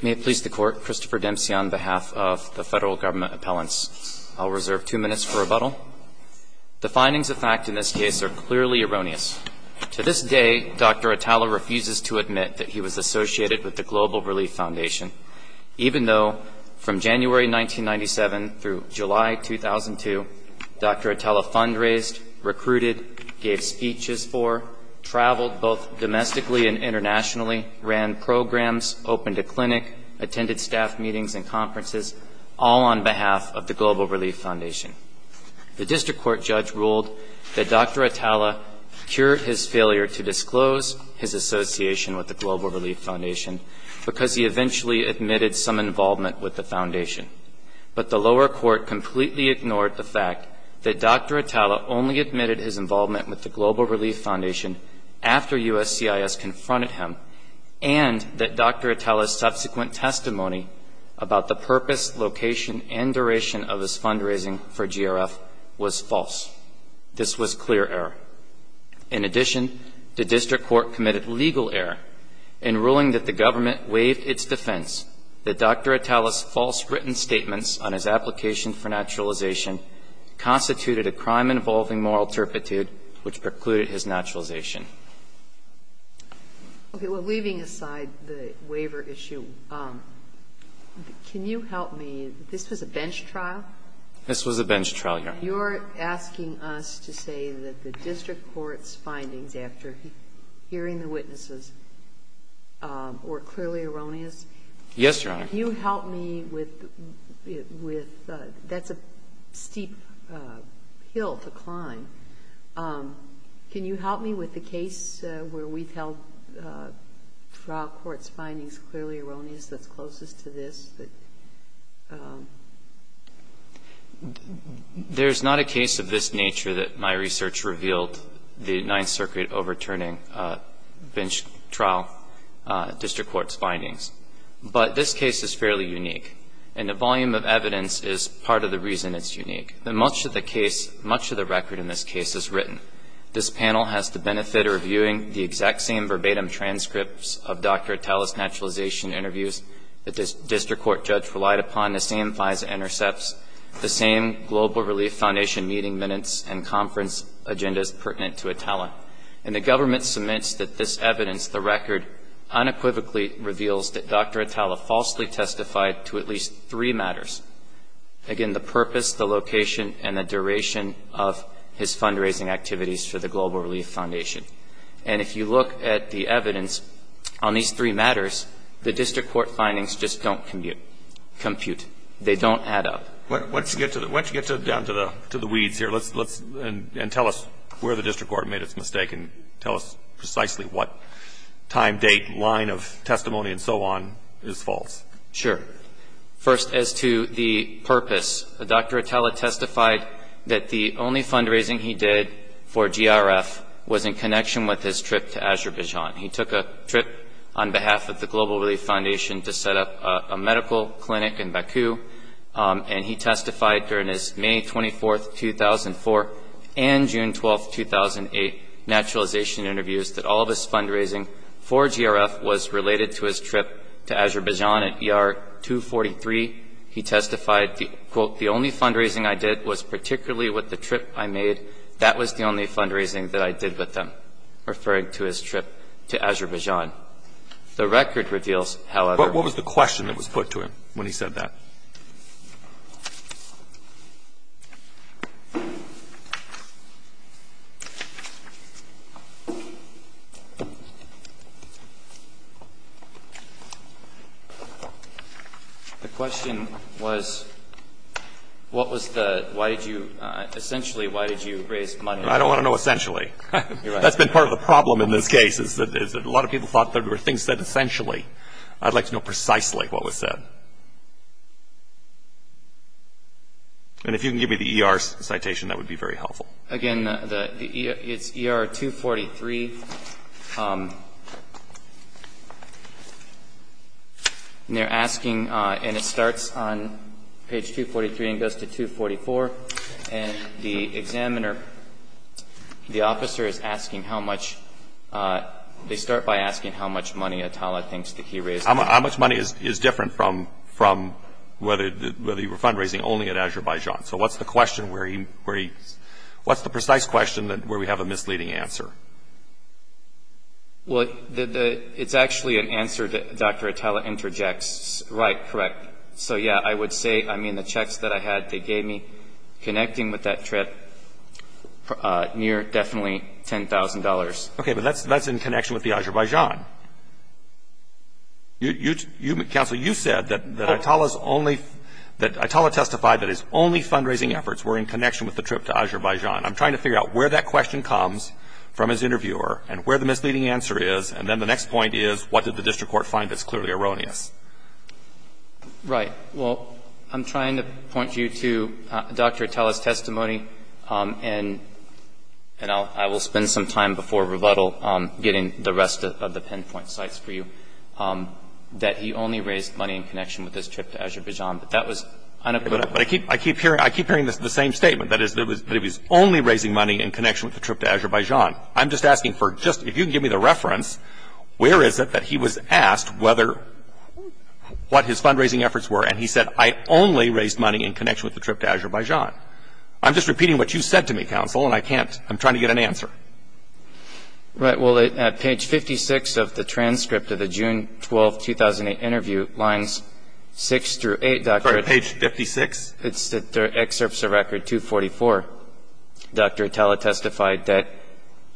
May it please the Court, Christopher Dempsey on behalf of the Federal Government Appellants. I'll reserve two minutes for rebuttal. The findings of fact in this case are clearly erroneous. To this day, Dr. Atalla refuses to admit that he was associated with the Global Relief Foundation, even though from January 1997 through July 2002, Dr. Atalla fundraised, recruited, gave speeches for, traveled both domestically and internationally, ran programs, opened a clinic, attended staff meetings and conferences, all on behalf of the Global Relief Foundation. The district court judge ruled that Dr. Atalla cured his failure to disclose his association with the Global Relief Foundation because he eventually admitted some involvement with the foundation. But the lower court completely ignored the fact that Dr. Atalla only admitted his involvement with the Global Relief Foundation after USCIS confronted him and that Dr. Atalla's subsequent testimony about the purpose, location and duration of his fundraising for GRF was false. This was clear error. In addition, the district court committed legal error in ruling that the government waived its defense that Dr. Atalla's false written statements on his application for which precluded his naturalization. Okay, well, leaving aside the waiver issue, can you help me? This was a bench trial? This was a bench trial, Your Honor. You're asking us to say that the district court's findings after hearing the witnesses were clearly erroneous? Yes, Your Honor. Can you help me with the – that's a steep hill to climb. Can you help me with the case where we've held trial court's findings clearly erroneous that's closest to this? There's not a case of this nature that my research revealed the Ninth Circuit overturning bench trial district court's findings. But this case is fairly unique, and the volume of evidence is part of the reason it's unique. Much of the case, much of the record in this case is written. This panel has the benefit of reviewing the exact same verbatim transcripts of Dr. Atalla's naturalization interviews that this district court judge relied upon, the same FISA intercepts, the same Global Relief Foundation meeting minutes and conference agendas pertinent to Atalla. And the government submits that this evidence, the record, unequivocally reveals that Dr. Atalla falsely testified to at least three matters. Again, the purpose, the location, and the duration of his fundraising activities for the Global Relief Foundation. And if you look at the evidence on these three matters, the district court findings just don't compute. They don't add up. Why don't you get down to the weeds here, and tell us where the district court made its mistake, and tell us precisely what time, date, line of testimony, and so on is false. Sure. First, as to the purpose, Dr. Atalla testified that the only fundraising he did for GRF was in connection with his trip to Azerbaijan. He took a trip on behalf of the Global Relief Foundation to set up a medical clinic in Baku, and he testified during his May 24, 2004, and June 12, 2008 naturalization interviews that all of his fundraising for GRF was related to his trip to Azerbaijan at ER 243. He testified, quote, the only fundraising I did was particularly with the trip I made. That was the only fundraising that I did with them, referring to his trip to Azerbaijan. The record reveals, however But what was the question that was put to him when he said that? The question was, what was the, why did you, essentially, why did you raise money? I don't want to know essentially. That's been part of the problem in this case, is that a lot of people thought that there were things said essentially. I'd like to know precisely what was said. And if you can give me the ER citation, that would be very helpful. Again, it's ER 243. And they're asking, and it starts on page 243 and goes to 244. And the examiner, the officer is asking how much, they start by asking how much money Atallah thinks that he raised. How much money is different from whether you were fundraising only at Azerbaijan? So what's the question where he, what's the precise question where we have a misleading answer? Well, it's actually an answer that Dr. Atallah interjects. Right, correct. So, yeah, I would say, I mean, the checks that I had they gave me connecting with that trip, near definitely $10,000. Okay, but that's in connection with the Azerbaijan. You, Counsel, you said that Atallah's only, that Atallah testified that his only fundraising efforts were in connection with the trip to Azerbaijan. I'm trying to figure out where that question comes from his interviewer and where the misleading answer is. And then the next point is, what did the district court find that's clearly erroneous? Right. Well, I'm trying to point you to Dr. Atallah's testimony, and I will spend some time before rebuttal getting the rest of the pinpoint sites for you, that he only raised money in connection with his trip to Azerbaijan. But that was unaccountable. But I keep hearing the same statement. That is, that he was only raising money in connection with the trip to Azerbaijan. I'm just asking for just, if you can give me the reference, where is it that he was asked whether, what his fundraising efforts were, I'm just repeating what you said to me, Counsel, and I can't, I'm trying to get an answer. Right. Well, at page 56 of the transcript of the June 12, 2008 interview, lines 6 through 8, Dr. Atallah. Sorry, page 56? It's the excerpts of record 244. Dr. Atallah testified that,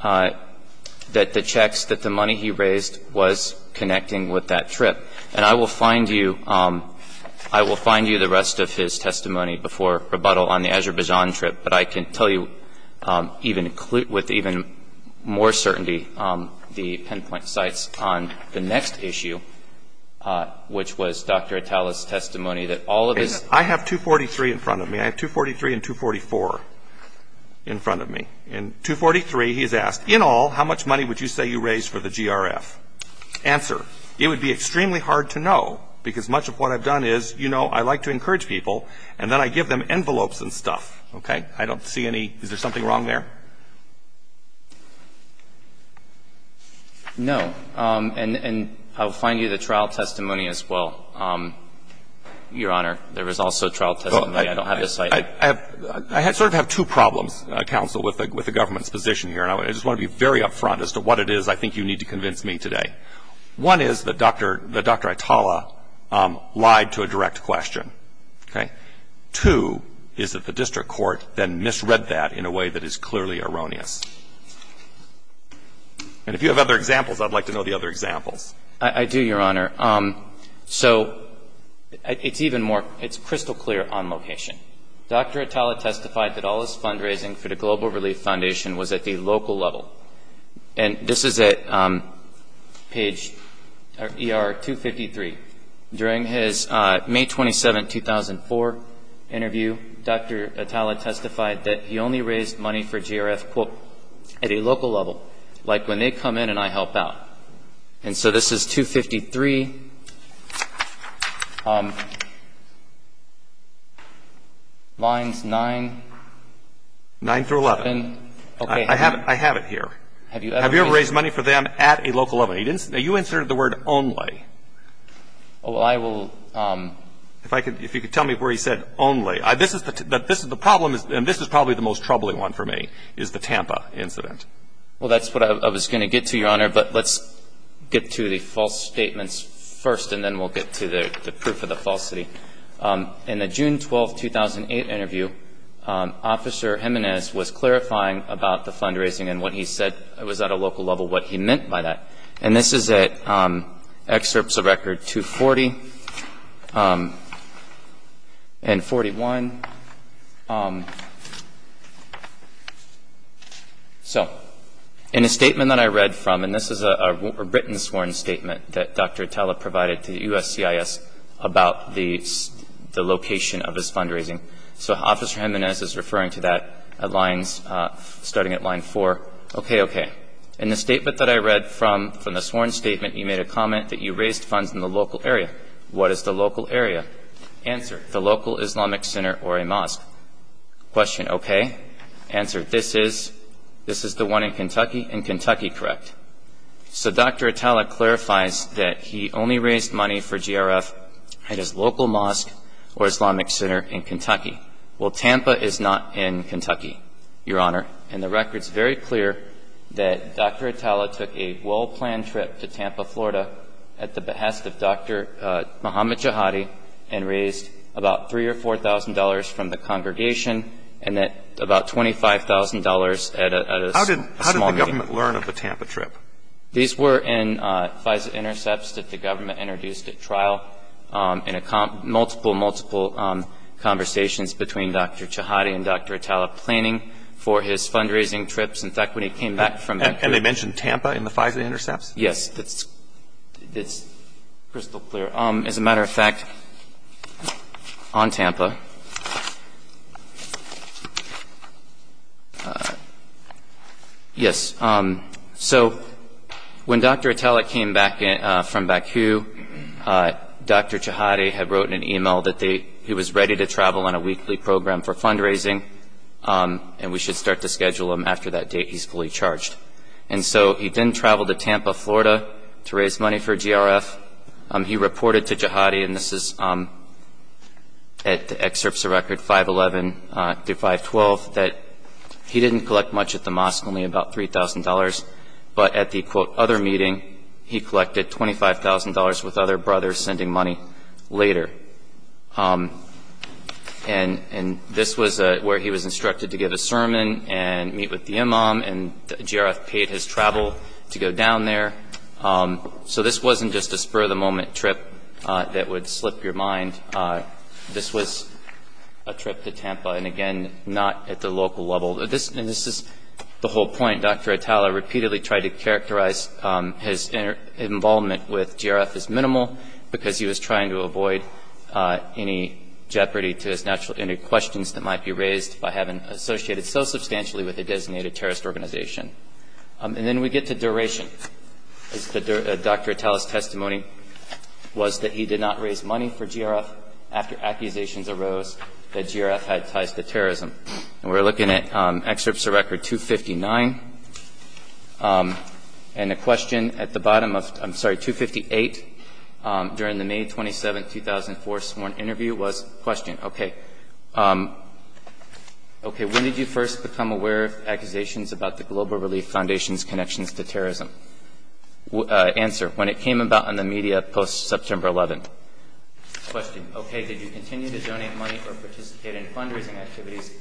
that the checks, that the money he raised was connecting with that trip. And I will find you, I will find you the rest of his testimony before rebuttal on the Azerbaijan trip. But I can tell you with even more certainty the pinpoint sites on the next issue, which was Dr. Atallah's testimony that all of his. I have 243 in front of me. I have 243 and 244 in front of me. In 243, he's asked, in all, how much money would you say you raised for the GRF? Answer. It would be extremely hard to know, because much of what I've done is, you know, I like to encourage people, and then I give them envelopes and stuff. Okay? I don't see any. Is there something wrong there? No. And I will find you the trial testimony as well, Your Honor. There was also trial testimony. I don't have the site. I sort of have two problems, Counsel, with the government's position here. And I just want to be very up front as to what it is I think you need to convince me today. One is that Dr. Atallah lied to a direct question. Okay? Two is that the district court then misread that in a way that is clearly erroneous. And if you have other examples, I'd like to know the other examples. I do, Your Honor. So it's even more, it's crystal clear on location. Dr. Atallah testified that all his fundraising for the Global Relief Foundation was at the local level. And this is at page ER 253. During his May 27, 2004 interview, Dr. Atallah testified that he only raised money for GRF, quote, at a local level, like when they come in and I help out. And so this is 253. Lines 9. Nine through 11. Okay. I have it here. Have you ever raised money for them at a local level? You inserted the word only. Well, I will. If you could tell me where he said only. The problem is, and this is probably the most troubling one for me, is the Tampa incident. Well, that's what I was going to get to, Your Honor. But let's get to the false statements first, and then we'll get to the proof of the falsity. In the June 12, 2008 interview, Officer Jimenez was clarifying about the fundraising and what he said was at a local level, what he meant by that. And this is at excerpts of Record 240 and 41. So in a statement that I read from, and this is a written sworn statement that Dr. Atallah provided to USCIS about the location of his fundraising. So Officer Jimenez is referring to that starting at line four. Okay, okay. In the statement that I read from, from the sworn statement, you made a comment that you raised funds in the local area. What is the local area? Answer. The local Islamic center or a mosque. Question. Okay. Answer. This is the one in Kentucky. In Kentucky, correct. So Dr. Atallah clarifies that he only raised money for GRF at his local mosque or Islamic center in Kentucky. Well, Tampa is not in Kentucky, Your Honor. And the record's very clear that Dr. Atallah took a well-planned trip to Tampa, Florida, at the behest of Dr. Muhammad Jihadi, and raised about $3,000 or $4,000 from the congregation and about $25,000 at a small meeting. What did the government learn of the Tampa trip? These were in FISA intercepts that the government introduced at trial in a multiple, multiple conversations between Dr. Jihadi and Dr. Atallah planning for his fundraising trips. In fact, when he came back from that trip. And they mentioned Tampa in the FISA intercepts? Yes. It's crystal clear. As a matter of fact, on Tampa. Yes. So when Dr. Atallah came back from Baku, Dr. Jihadi had wrote in an e-mail that he was ready to travel on a weekly program for fundraising, and we should start to schedule him after that date he's fully charged. And so he then traveled to Tampa, Florida, to raise money for GRF. He reported to Jihadi, and this is at the excerpts of record 511 through 512, that he didn't collect much at the mosque, only about $3,000. But at the, quote, other meeting, he collected $25,000 with other brothers sending money later. And this was where he was instructed to give a sermon and meet with the imam, and GRF paid his travel to go down there. So this wasn't just a spur-of-the-moment trip that would slip your mind. This was a trip to Tampa, and, again, not at the local level. And this is the whole point. Dr. Atallah repeatedly tried to characterize his involvement with GRF as minimal because he was trying to avoid any jeopardy to his questions that might be raised by having associated so substantially with a designated terrorist organization. And then we get to duration. Dr. Atallah's testimony was that he did not raise money for GRF after accusations arose that GRF had ties to terrorism. And we're looking at excerpts of record 259. And the question at the bottom of, I'm sorry, 258, during the May 27, 2004, sworn interview, was the question, okay, okay, when did you first become aware of accusations about the Global Relief Foundation's connections to terrorism? Answer, when it came about in the media post-September 11. Question, okay, did you continue to donate money or participate in fundraising activities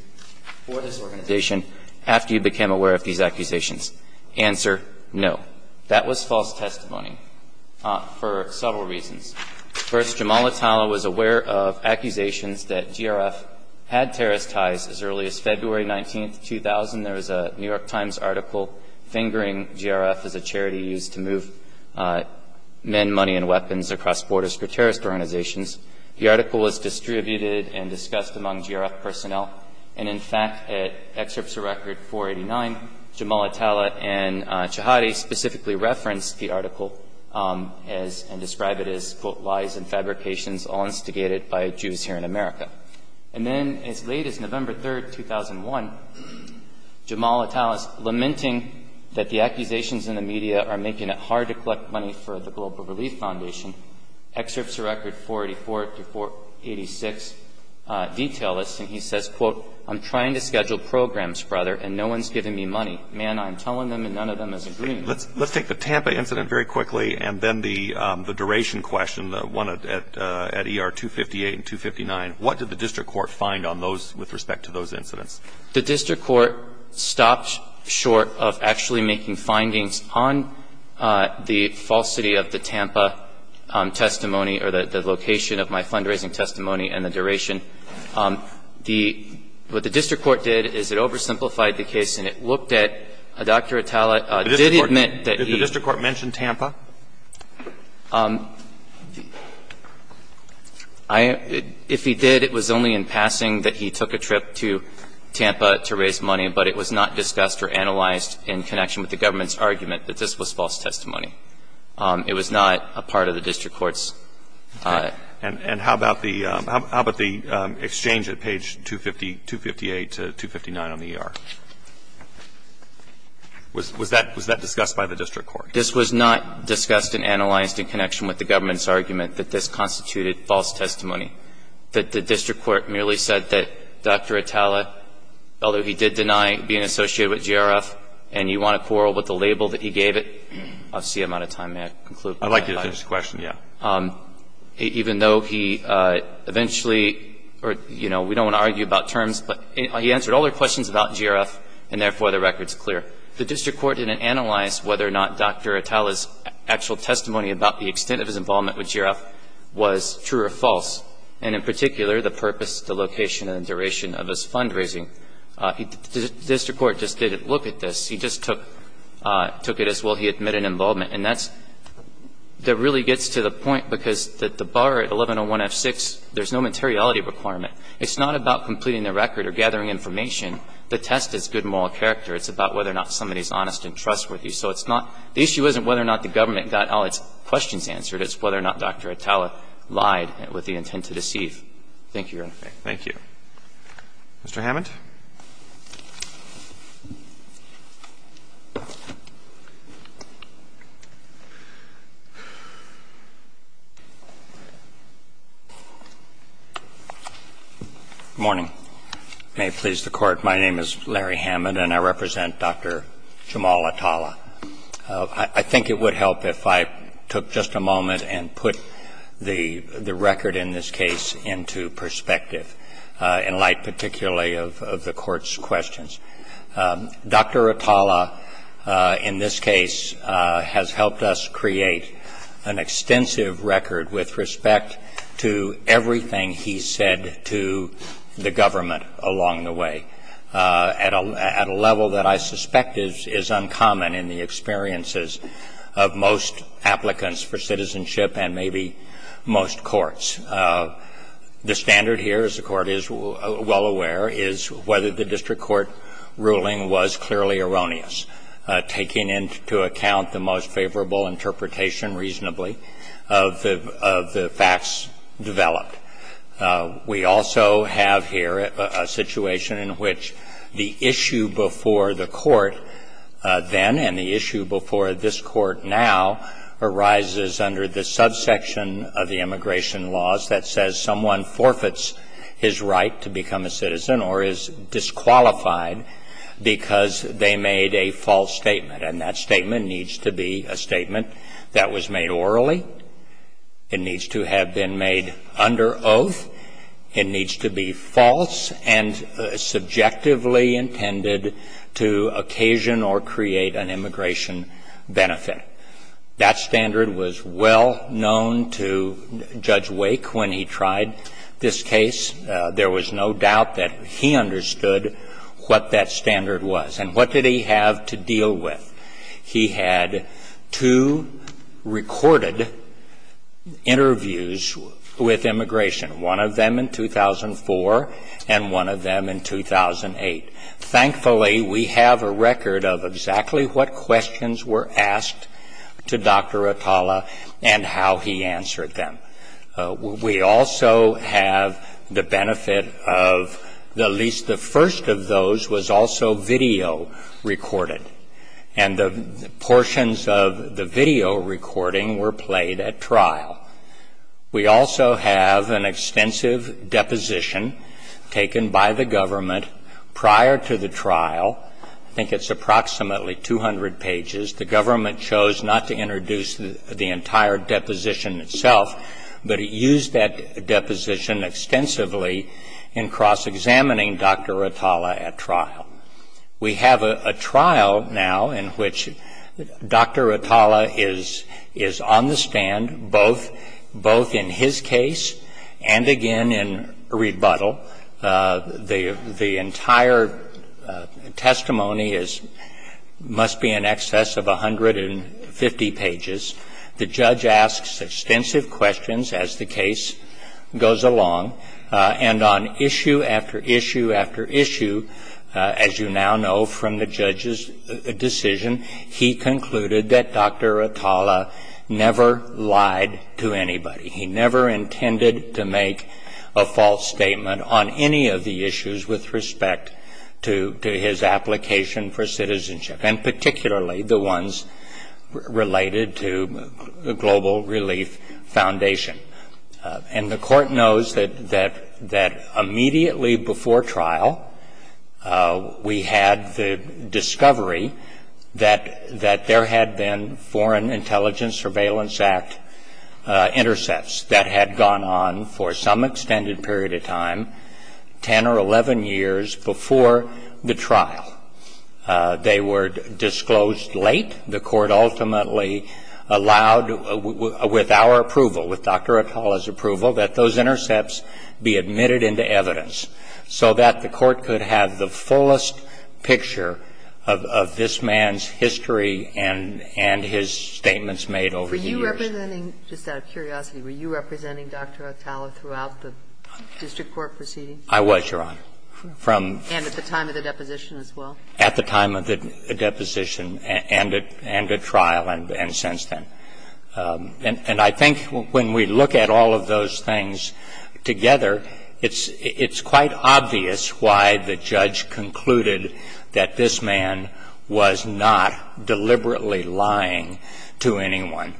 for this organization after you became aware of these accusations? Answer, no. That was false testimony for several reasons. First, Jamal Atallah was aware of accusations that GRF had terrorist ties as early as February 19, 2000. There was a New York Times article fingering GRF as a charity used to move men, money, and weapons across borders for terrorist organizations. The article was distributed and discussed among GRF personnel. And in fact, at excerpts of record 489, Jamal Atallah and Chahadi specifically referenced the article and described it as, quote, lies and fabrications all instigated by Jews here in America. And then as late as November 3, 2001, Jamal Atallah is lamenting that the accusations in the media are making it hard to collect money for the Global Relief Foundation. Excerpts of record 484 to 486 detail this. And he says, quote, I'm trying to schedule programs, brother, and no one's giving me money. Man, I'm telling them and none of them is agreeing. Let's take the Tampa incident very quickly and then the duration question, the one at ER 258 and 259. What did the district court find on those with respect to those incidents? The district court stopped short of actually making findings on the falsity of the Tampa testimony or the location of my fundraising testimony and the duration. The what the district court did is it oversimplified the case and it looked at Dr. Atallah did admit that he Did the district court mention Tampa? If he did, it was only in passing that he took a trip to Tampa to raise money, but it was not discussed or analyzed in connection with the government's argument that this was false testimony. It was not a part of the district court's And how about the exchange at page 250, 258 to 259 on the ER? Was that discussed by the district court? This was not discussed and analyzed in connection with the government's argument that this constituted false testimony, that the district court merely said that Dr. Atallah, although he did deny being associated with GRF and you want to quarrel with the label that he gave it, I'll see you out of time. May I conclude? I'd like you to finish the question, yeah. Even though he eventually or, you know, we don't want to argue about terms, but he answered all the questions about GRF and therefore the record's clear. The district court didn't analyze whether or not Dr. Atallah's actual testimony about the extent of his involvement with GRF was true or false, and in particular the purpose, the location, and the duration of his fundraising. The district court just didn't look at this. He just took it as, well, he admitted involvement. And that really gets to the point because the bar at 1101F6, there's no materiality requirement. It's not about completing the record or gathering information. The test is good moral character. It's about whether or not somebody's honest and trustworthy. So it's not the issue isn't whether or not the government got all its questions answered. It's whether or not Dr. Atallah lied with the intent to deceive. Thank you, Your Honor. Thank you. Mr. Hammond. Good morning. May it please the Court. My name is Larry Hammond, and I represent Dr. Jamal Atallah. I think it would help if I took just a moment and put the record in this case into perspective, in light particularly of the Court's questions. Dr. Atallah, in this case, has helped us create an extensive record with respect to everything he said to the government along the way at a level that I suspect is uncommon in the experiences of most applicants for citizenship and maybe most courts. The standard here, as the Court is well aware, is whether the district court ruling was clearly erroneous, taking into account the most favorable interpretation reasonably of the facts developed. We also have here a situation in which the issue before the Court then and the issue before this Court now arises under the subsection of the immigration laws that says someone forfeits his right to become a citizen or is disqualified because they made a false statement. And that statement needs to be a statement that was made orally. It needs to have been made under oath. It needs to be false and subjectively intended to occasion or create an immigration benefit. That standard was well known to Judge Wake when he tried this case. There was no doubt that he understood what that standard was. And what did he have to deal with? He had two recorded interviews with immigration, one of them in 2004 and one of them in 2008. Thankfully, we have a record of exactly what questions were asked to Dr. Atala and how he answered them. We also have the benefit of at least the first of those was also video recorded. And the portions of the video recording were played at trial. We also have an extensive deposition taken by the government prior to the trial. I think it's approximately 200 pages. The government chose not to introduce the entire deposition itself, but it used that deposition extensively in cross-examining Dr. Atala at trial. We have a trial now in which Dr. Atala is on the stand both in his case and again in rebuttal. The entire testimony must be in excess of 150 pages. The judge asks extensive questions as the case goes along. And on issue after issue after issue, as you now know from the judge's decision, he concluded that Dr. Atala never lied to anybody. He never intended to make a false statement on any of the issues with respect to his application for citizenship, and particularly the ones related to the Global Relief Foundation. And the court knows that immediately before trial we had the discovery that there had been Foreign Intelligence Surveillance Act intercepts that had gone on for some extended period of time, 10 or 11 years before the trial. They were disclosed late. The court ultimately allowed, with our approval, with Dr. Atala's approval, that those intercepts be admitted into evidence so that the court could have the fullest picture of this man's history and his statements made over the years. Were you representing, just out of curiosity, were you representing Dr. Atala throughout the district court proceedings? I was, Your Honor. And at the time of the deposition as well? At the time of the deposition and at trial and since then. And I think when we look at all of those things together, it's quite obvious why the judge concluded that this man was not deliberately lying to anyone.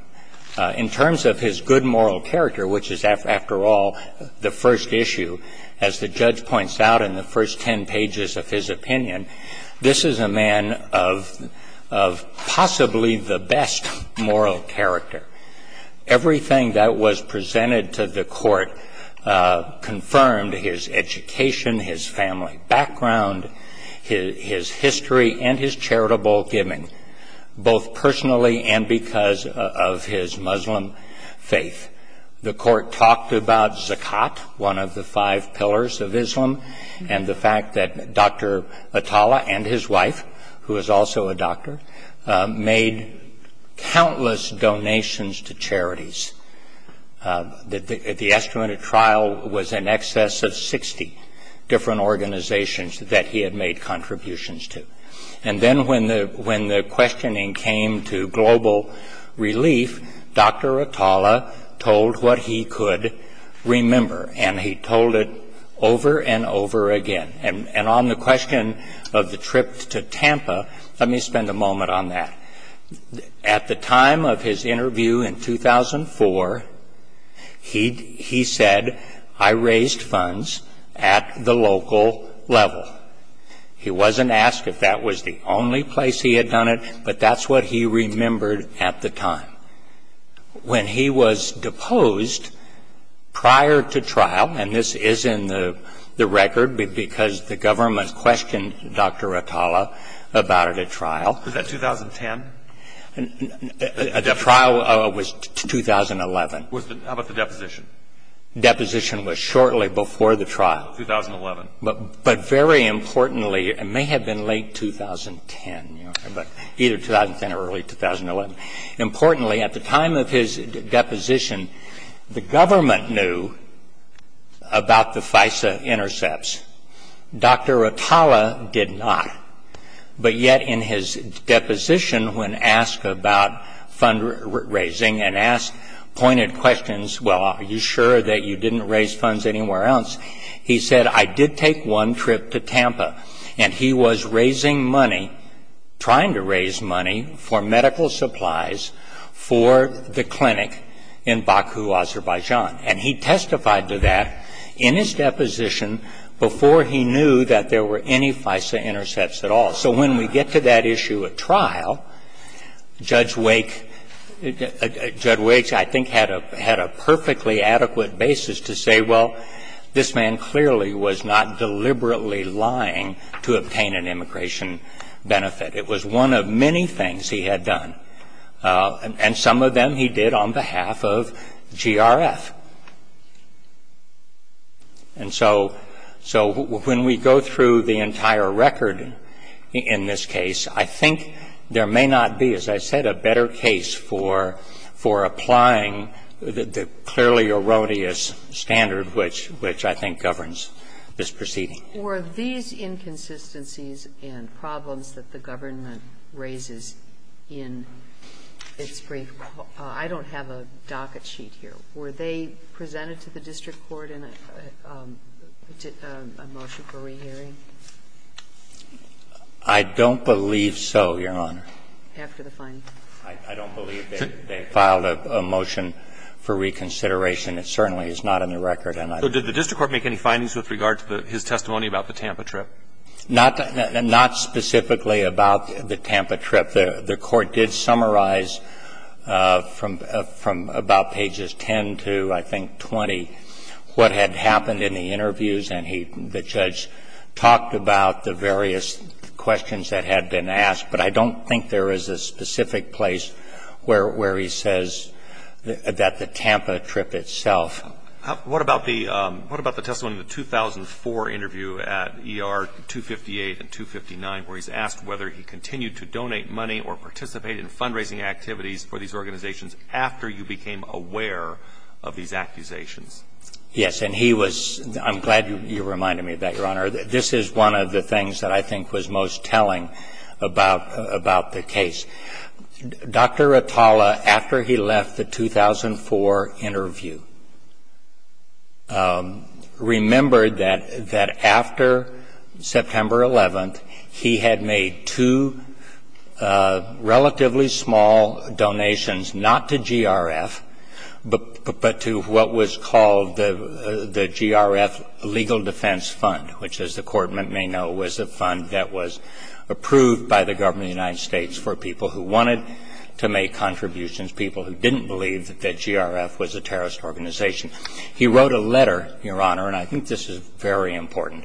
In terms of his good moral character, which is, after all, the first issue, as the judge said, this is a man of possibly the best moral character. Everything that was presented to the court confirmed his education, his family background, his history, and his charitable giving, both personally and because of his Muslim faith. The court talked about Zakat, one of the five pillars of Islam, and the fact that Dr. Atala and his wife, who is also a doctor, made countless donations to charities. The estimate of trial was in excess of 60 different organizations that he had made contributions to. And then when the questioning came to global relief, Dr. Atala told what he could remember, and he told it over and over again. And on the question of the trip to Tampa, let me spend a moment on that. At the time of his interview in 2004, he said, I raised funds at the local level. He wasn't asked if that was the only place he had done it, but that's what he remembered at the time. When he was deposed prior to trial, and this is in the record because the government questioned Dr. Atala about it at trial. Was that 2010? The trial was 2011. How about the deposition? Deposition was shortly before the trial. 2011. But very importantly, it may have been late 2010, but either 2010 or early 2011. Importantly, at the time of his deposition, the government knew about the FISA intercepts. Dr. Atala did not. But yet in his deposition, when asked about fundraising and pointed questions, well, are you sure that you didn't raise funds anywhere else, he said, I did take one trip to Tampa. And he was raising money, trying to raise money for medical supplies for the clinic in Baku, Azerbaijan. And he testified to that in his deposition before he knew that there were any FISA intercepts at all. So when we get to that issue at trial, Judge Wake, I think, had a perfectly adequate basis to say, well, this man clearly was not deliberately lying to obtain an immigration benefit. It was one of many things he had done. And some of them he did on behalf of GRF. And so when we go through the entire record in this case, I think there may not be, as I said, a better case for applying the clearly erroneous standard which I think governs this proceeding. Were these inconsistencies and problems that the government raises in its brief call – I don't have a docket sheet here. Were they presented to the district court in a motion for rehearing? I don't believe so, Your Honor. After the findings. I don't believe they filed a motion for reconsideration. It certainly is not in the record. And I don't know. So did the district court make any findings with regard to his testimony about the Tampa trip? Not specifically about the Tampa trip. The court did summarize from about pages 10 to I think 20 what had happened in the interviews. And the judge talked about the various questions that had been asked. But I don't think there is a specific place where he says that the Tampa trip itself What about the testimony in the 2004 interview at ER 258 and 259 where he's asked whether he continued to donate money or participate in fundraising activities for these organizations after you became aware of these accusations? Yes. And he was – I'm glad you reminded me of that, Your Honor. This is one of the things that I think was most telling about the case. Dr. Atala, after he left the 2004 interview, remembered that after September 11th, he had made two relatively small donations, not to GRF, but to what was called the fund that was approved by the government of the United States for people who wanted to make contributions, people who didn't believe that GRF was a terrorist organization. He wrote a letter, Your Honor, and I think this is very important.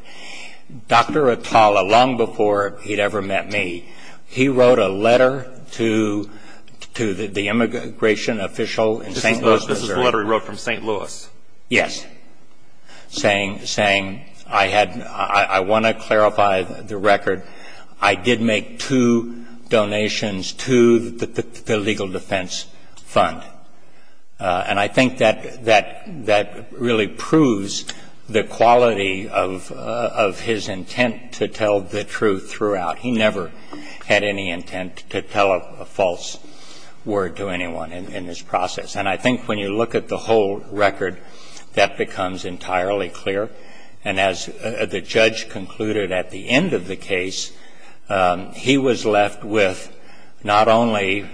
Dr. Atala, long before he'd ever met me, he wrote a letter to the immigration official in St. Louis, Missouri. This is the letter he wrote from St. Louis? Yes. Saying I had – I want to clarify the record. I did make two donations to the legal defense fund. And I think that really proves the quality of his intent to tell the truth throughout. He never had any intent to tell a false word to anyone in this process. And I think when you look at the whole record, that becomes entirely clear. And as the judge concluded at the end of the case, he was left with not only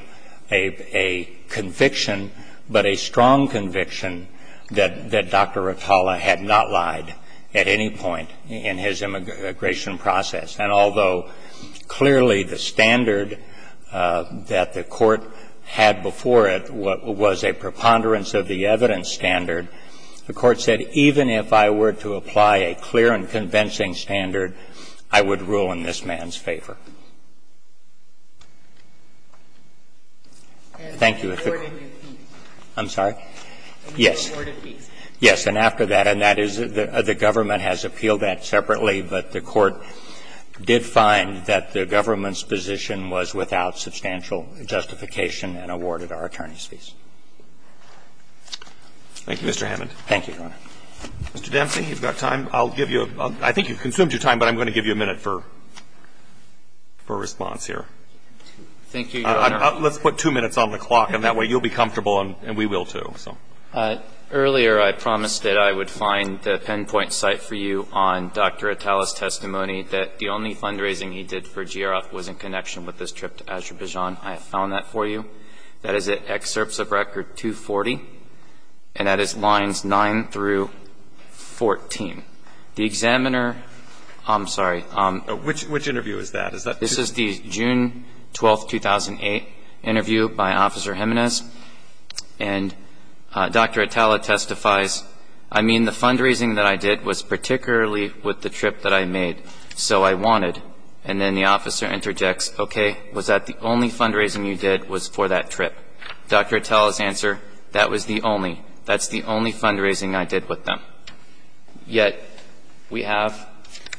a conviction, but a strong conviction that Dr. Atala had not lied at any point in his immigration process. And although clearly the standard that the Court had before it was a preponderance of the evidence standard, the Court said even if I were to apply a clear and convincing standard, I would rule in this man's favor. Thank you. I'm sorry? Yes. Yes. And after that, and that is – the government has appealed that separately, but the Court did find that the government's position was without substantial justification and awarded our attorneys' fees. Thank you, Mr. Hammond. Thank you, Your Honor. Mr. Dempsey, you've got time. I'll give you a – I think you've consumed your time, but I'm going to give you a minute for response here. Thank you, Your Honor. Let's put two minutes on the clock, and that way you'll be comfortable and we will, Earlier, I promised that I would find the pinpoint site for you on Dr. Atala's testimony that the only fundraising he did for GRF was in connection with his trip to Azerbaijan. I have found that for you. That is at Excerpts of Record 240, and that is lines 9 through 14. The examiner – I'm sorry. Which interview is that? This is the June 12, 2008 interview by Officer Jimenez, and Dr. Atala testifies, I mean, the fundraising that I did was particularly with the trip that I made, so I wanted. And then the officer interjects, okay, was that the only fundraising you did was for that trip? Dr. Atala's answer, that was the only. That's the only fundraising I did with them. Yet we have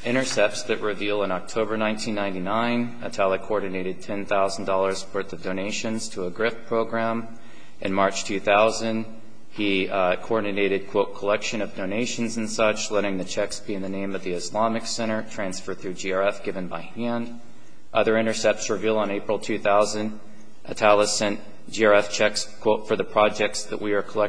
intercepts that reveal in October 1999, Atala coordinated $10,000 worth of donations to a GRF program. In March 2000, he coordinated, quote, collection of donations and such, letting the checks be in the name of the Islamic Center, transfer through GRF, given by hand. Other intercepts reveal on April 2000, Atala sent GRF checks, quote, for the projects that we In June 2000,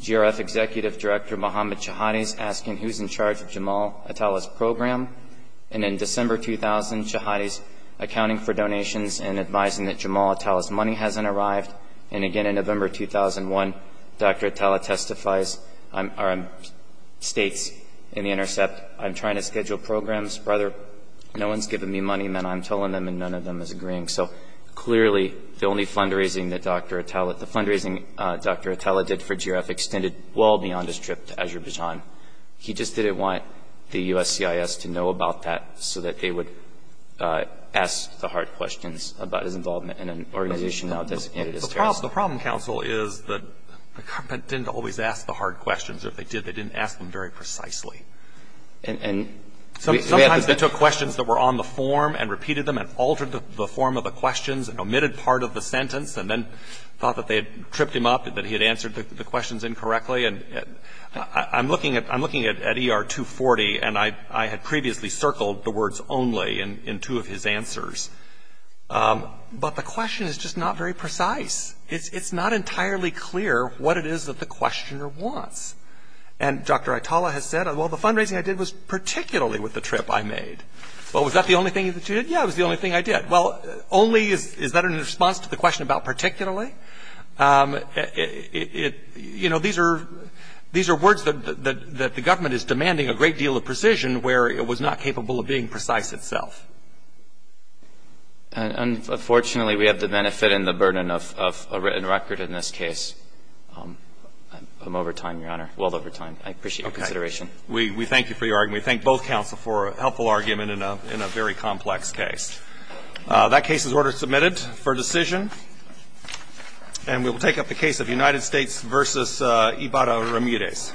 GRF Executive Director Mohammad Chahadi is asking who is in charge of Jamal Atala's program. And in December 2000, Chahadi is accounting for donations and advising that Jamal Atala's money hasn't arrived. And again in November 2001, Dr. Atala testifies, states in the intercept, I'm trying to schedule programs, brother, no one's giving me money, man, I'm telling them and none of them is agreeing. So clearly, the only fundraising that Dr. Atala, the fundraising Dr. Atala did for GRF extended well beyond his trip to Azerbaijan. He just didn't want the USCIS to know about that so that they would ask the hard questions about his involvement in an organization now designated as terrorist. The problem, counsel, is that the government didn't always ask the hard questions. If they did, they didn't ask them very precisely. And we have to take questions that were on the form and repeated them and altered the form of the questions and omitted part of the sentence and then thought that they had tripped him up and that he had answered the questions incorrectly. And I'm looking at ER 240, and I had previously circled the words only in two of his answers. But the question is just not very precise. It's not entirely clear what it is that the questioner wants. And Dr. Atala has said, well, the fundraising I did was particularly with the trip I made. Well, was that the only thing that you did? Yeah, it was the only thing I did. Well, only is that in response to the question about particularly? You know, these are words that the government is demanding a great deal of precision where it was not capable of being precise itself. Unfortunately, we have to benefit in the burden of a written record in this case. I'm over time, Your Honor. Well over time. I appreciate your consideration. Okay. We thank you for your argument. We thank both counsel for a helpful argument in a very complex case. That case is order submitted for decision. And we will take up the case of United States v. Ibarra Ramirez. Thank you.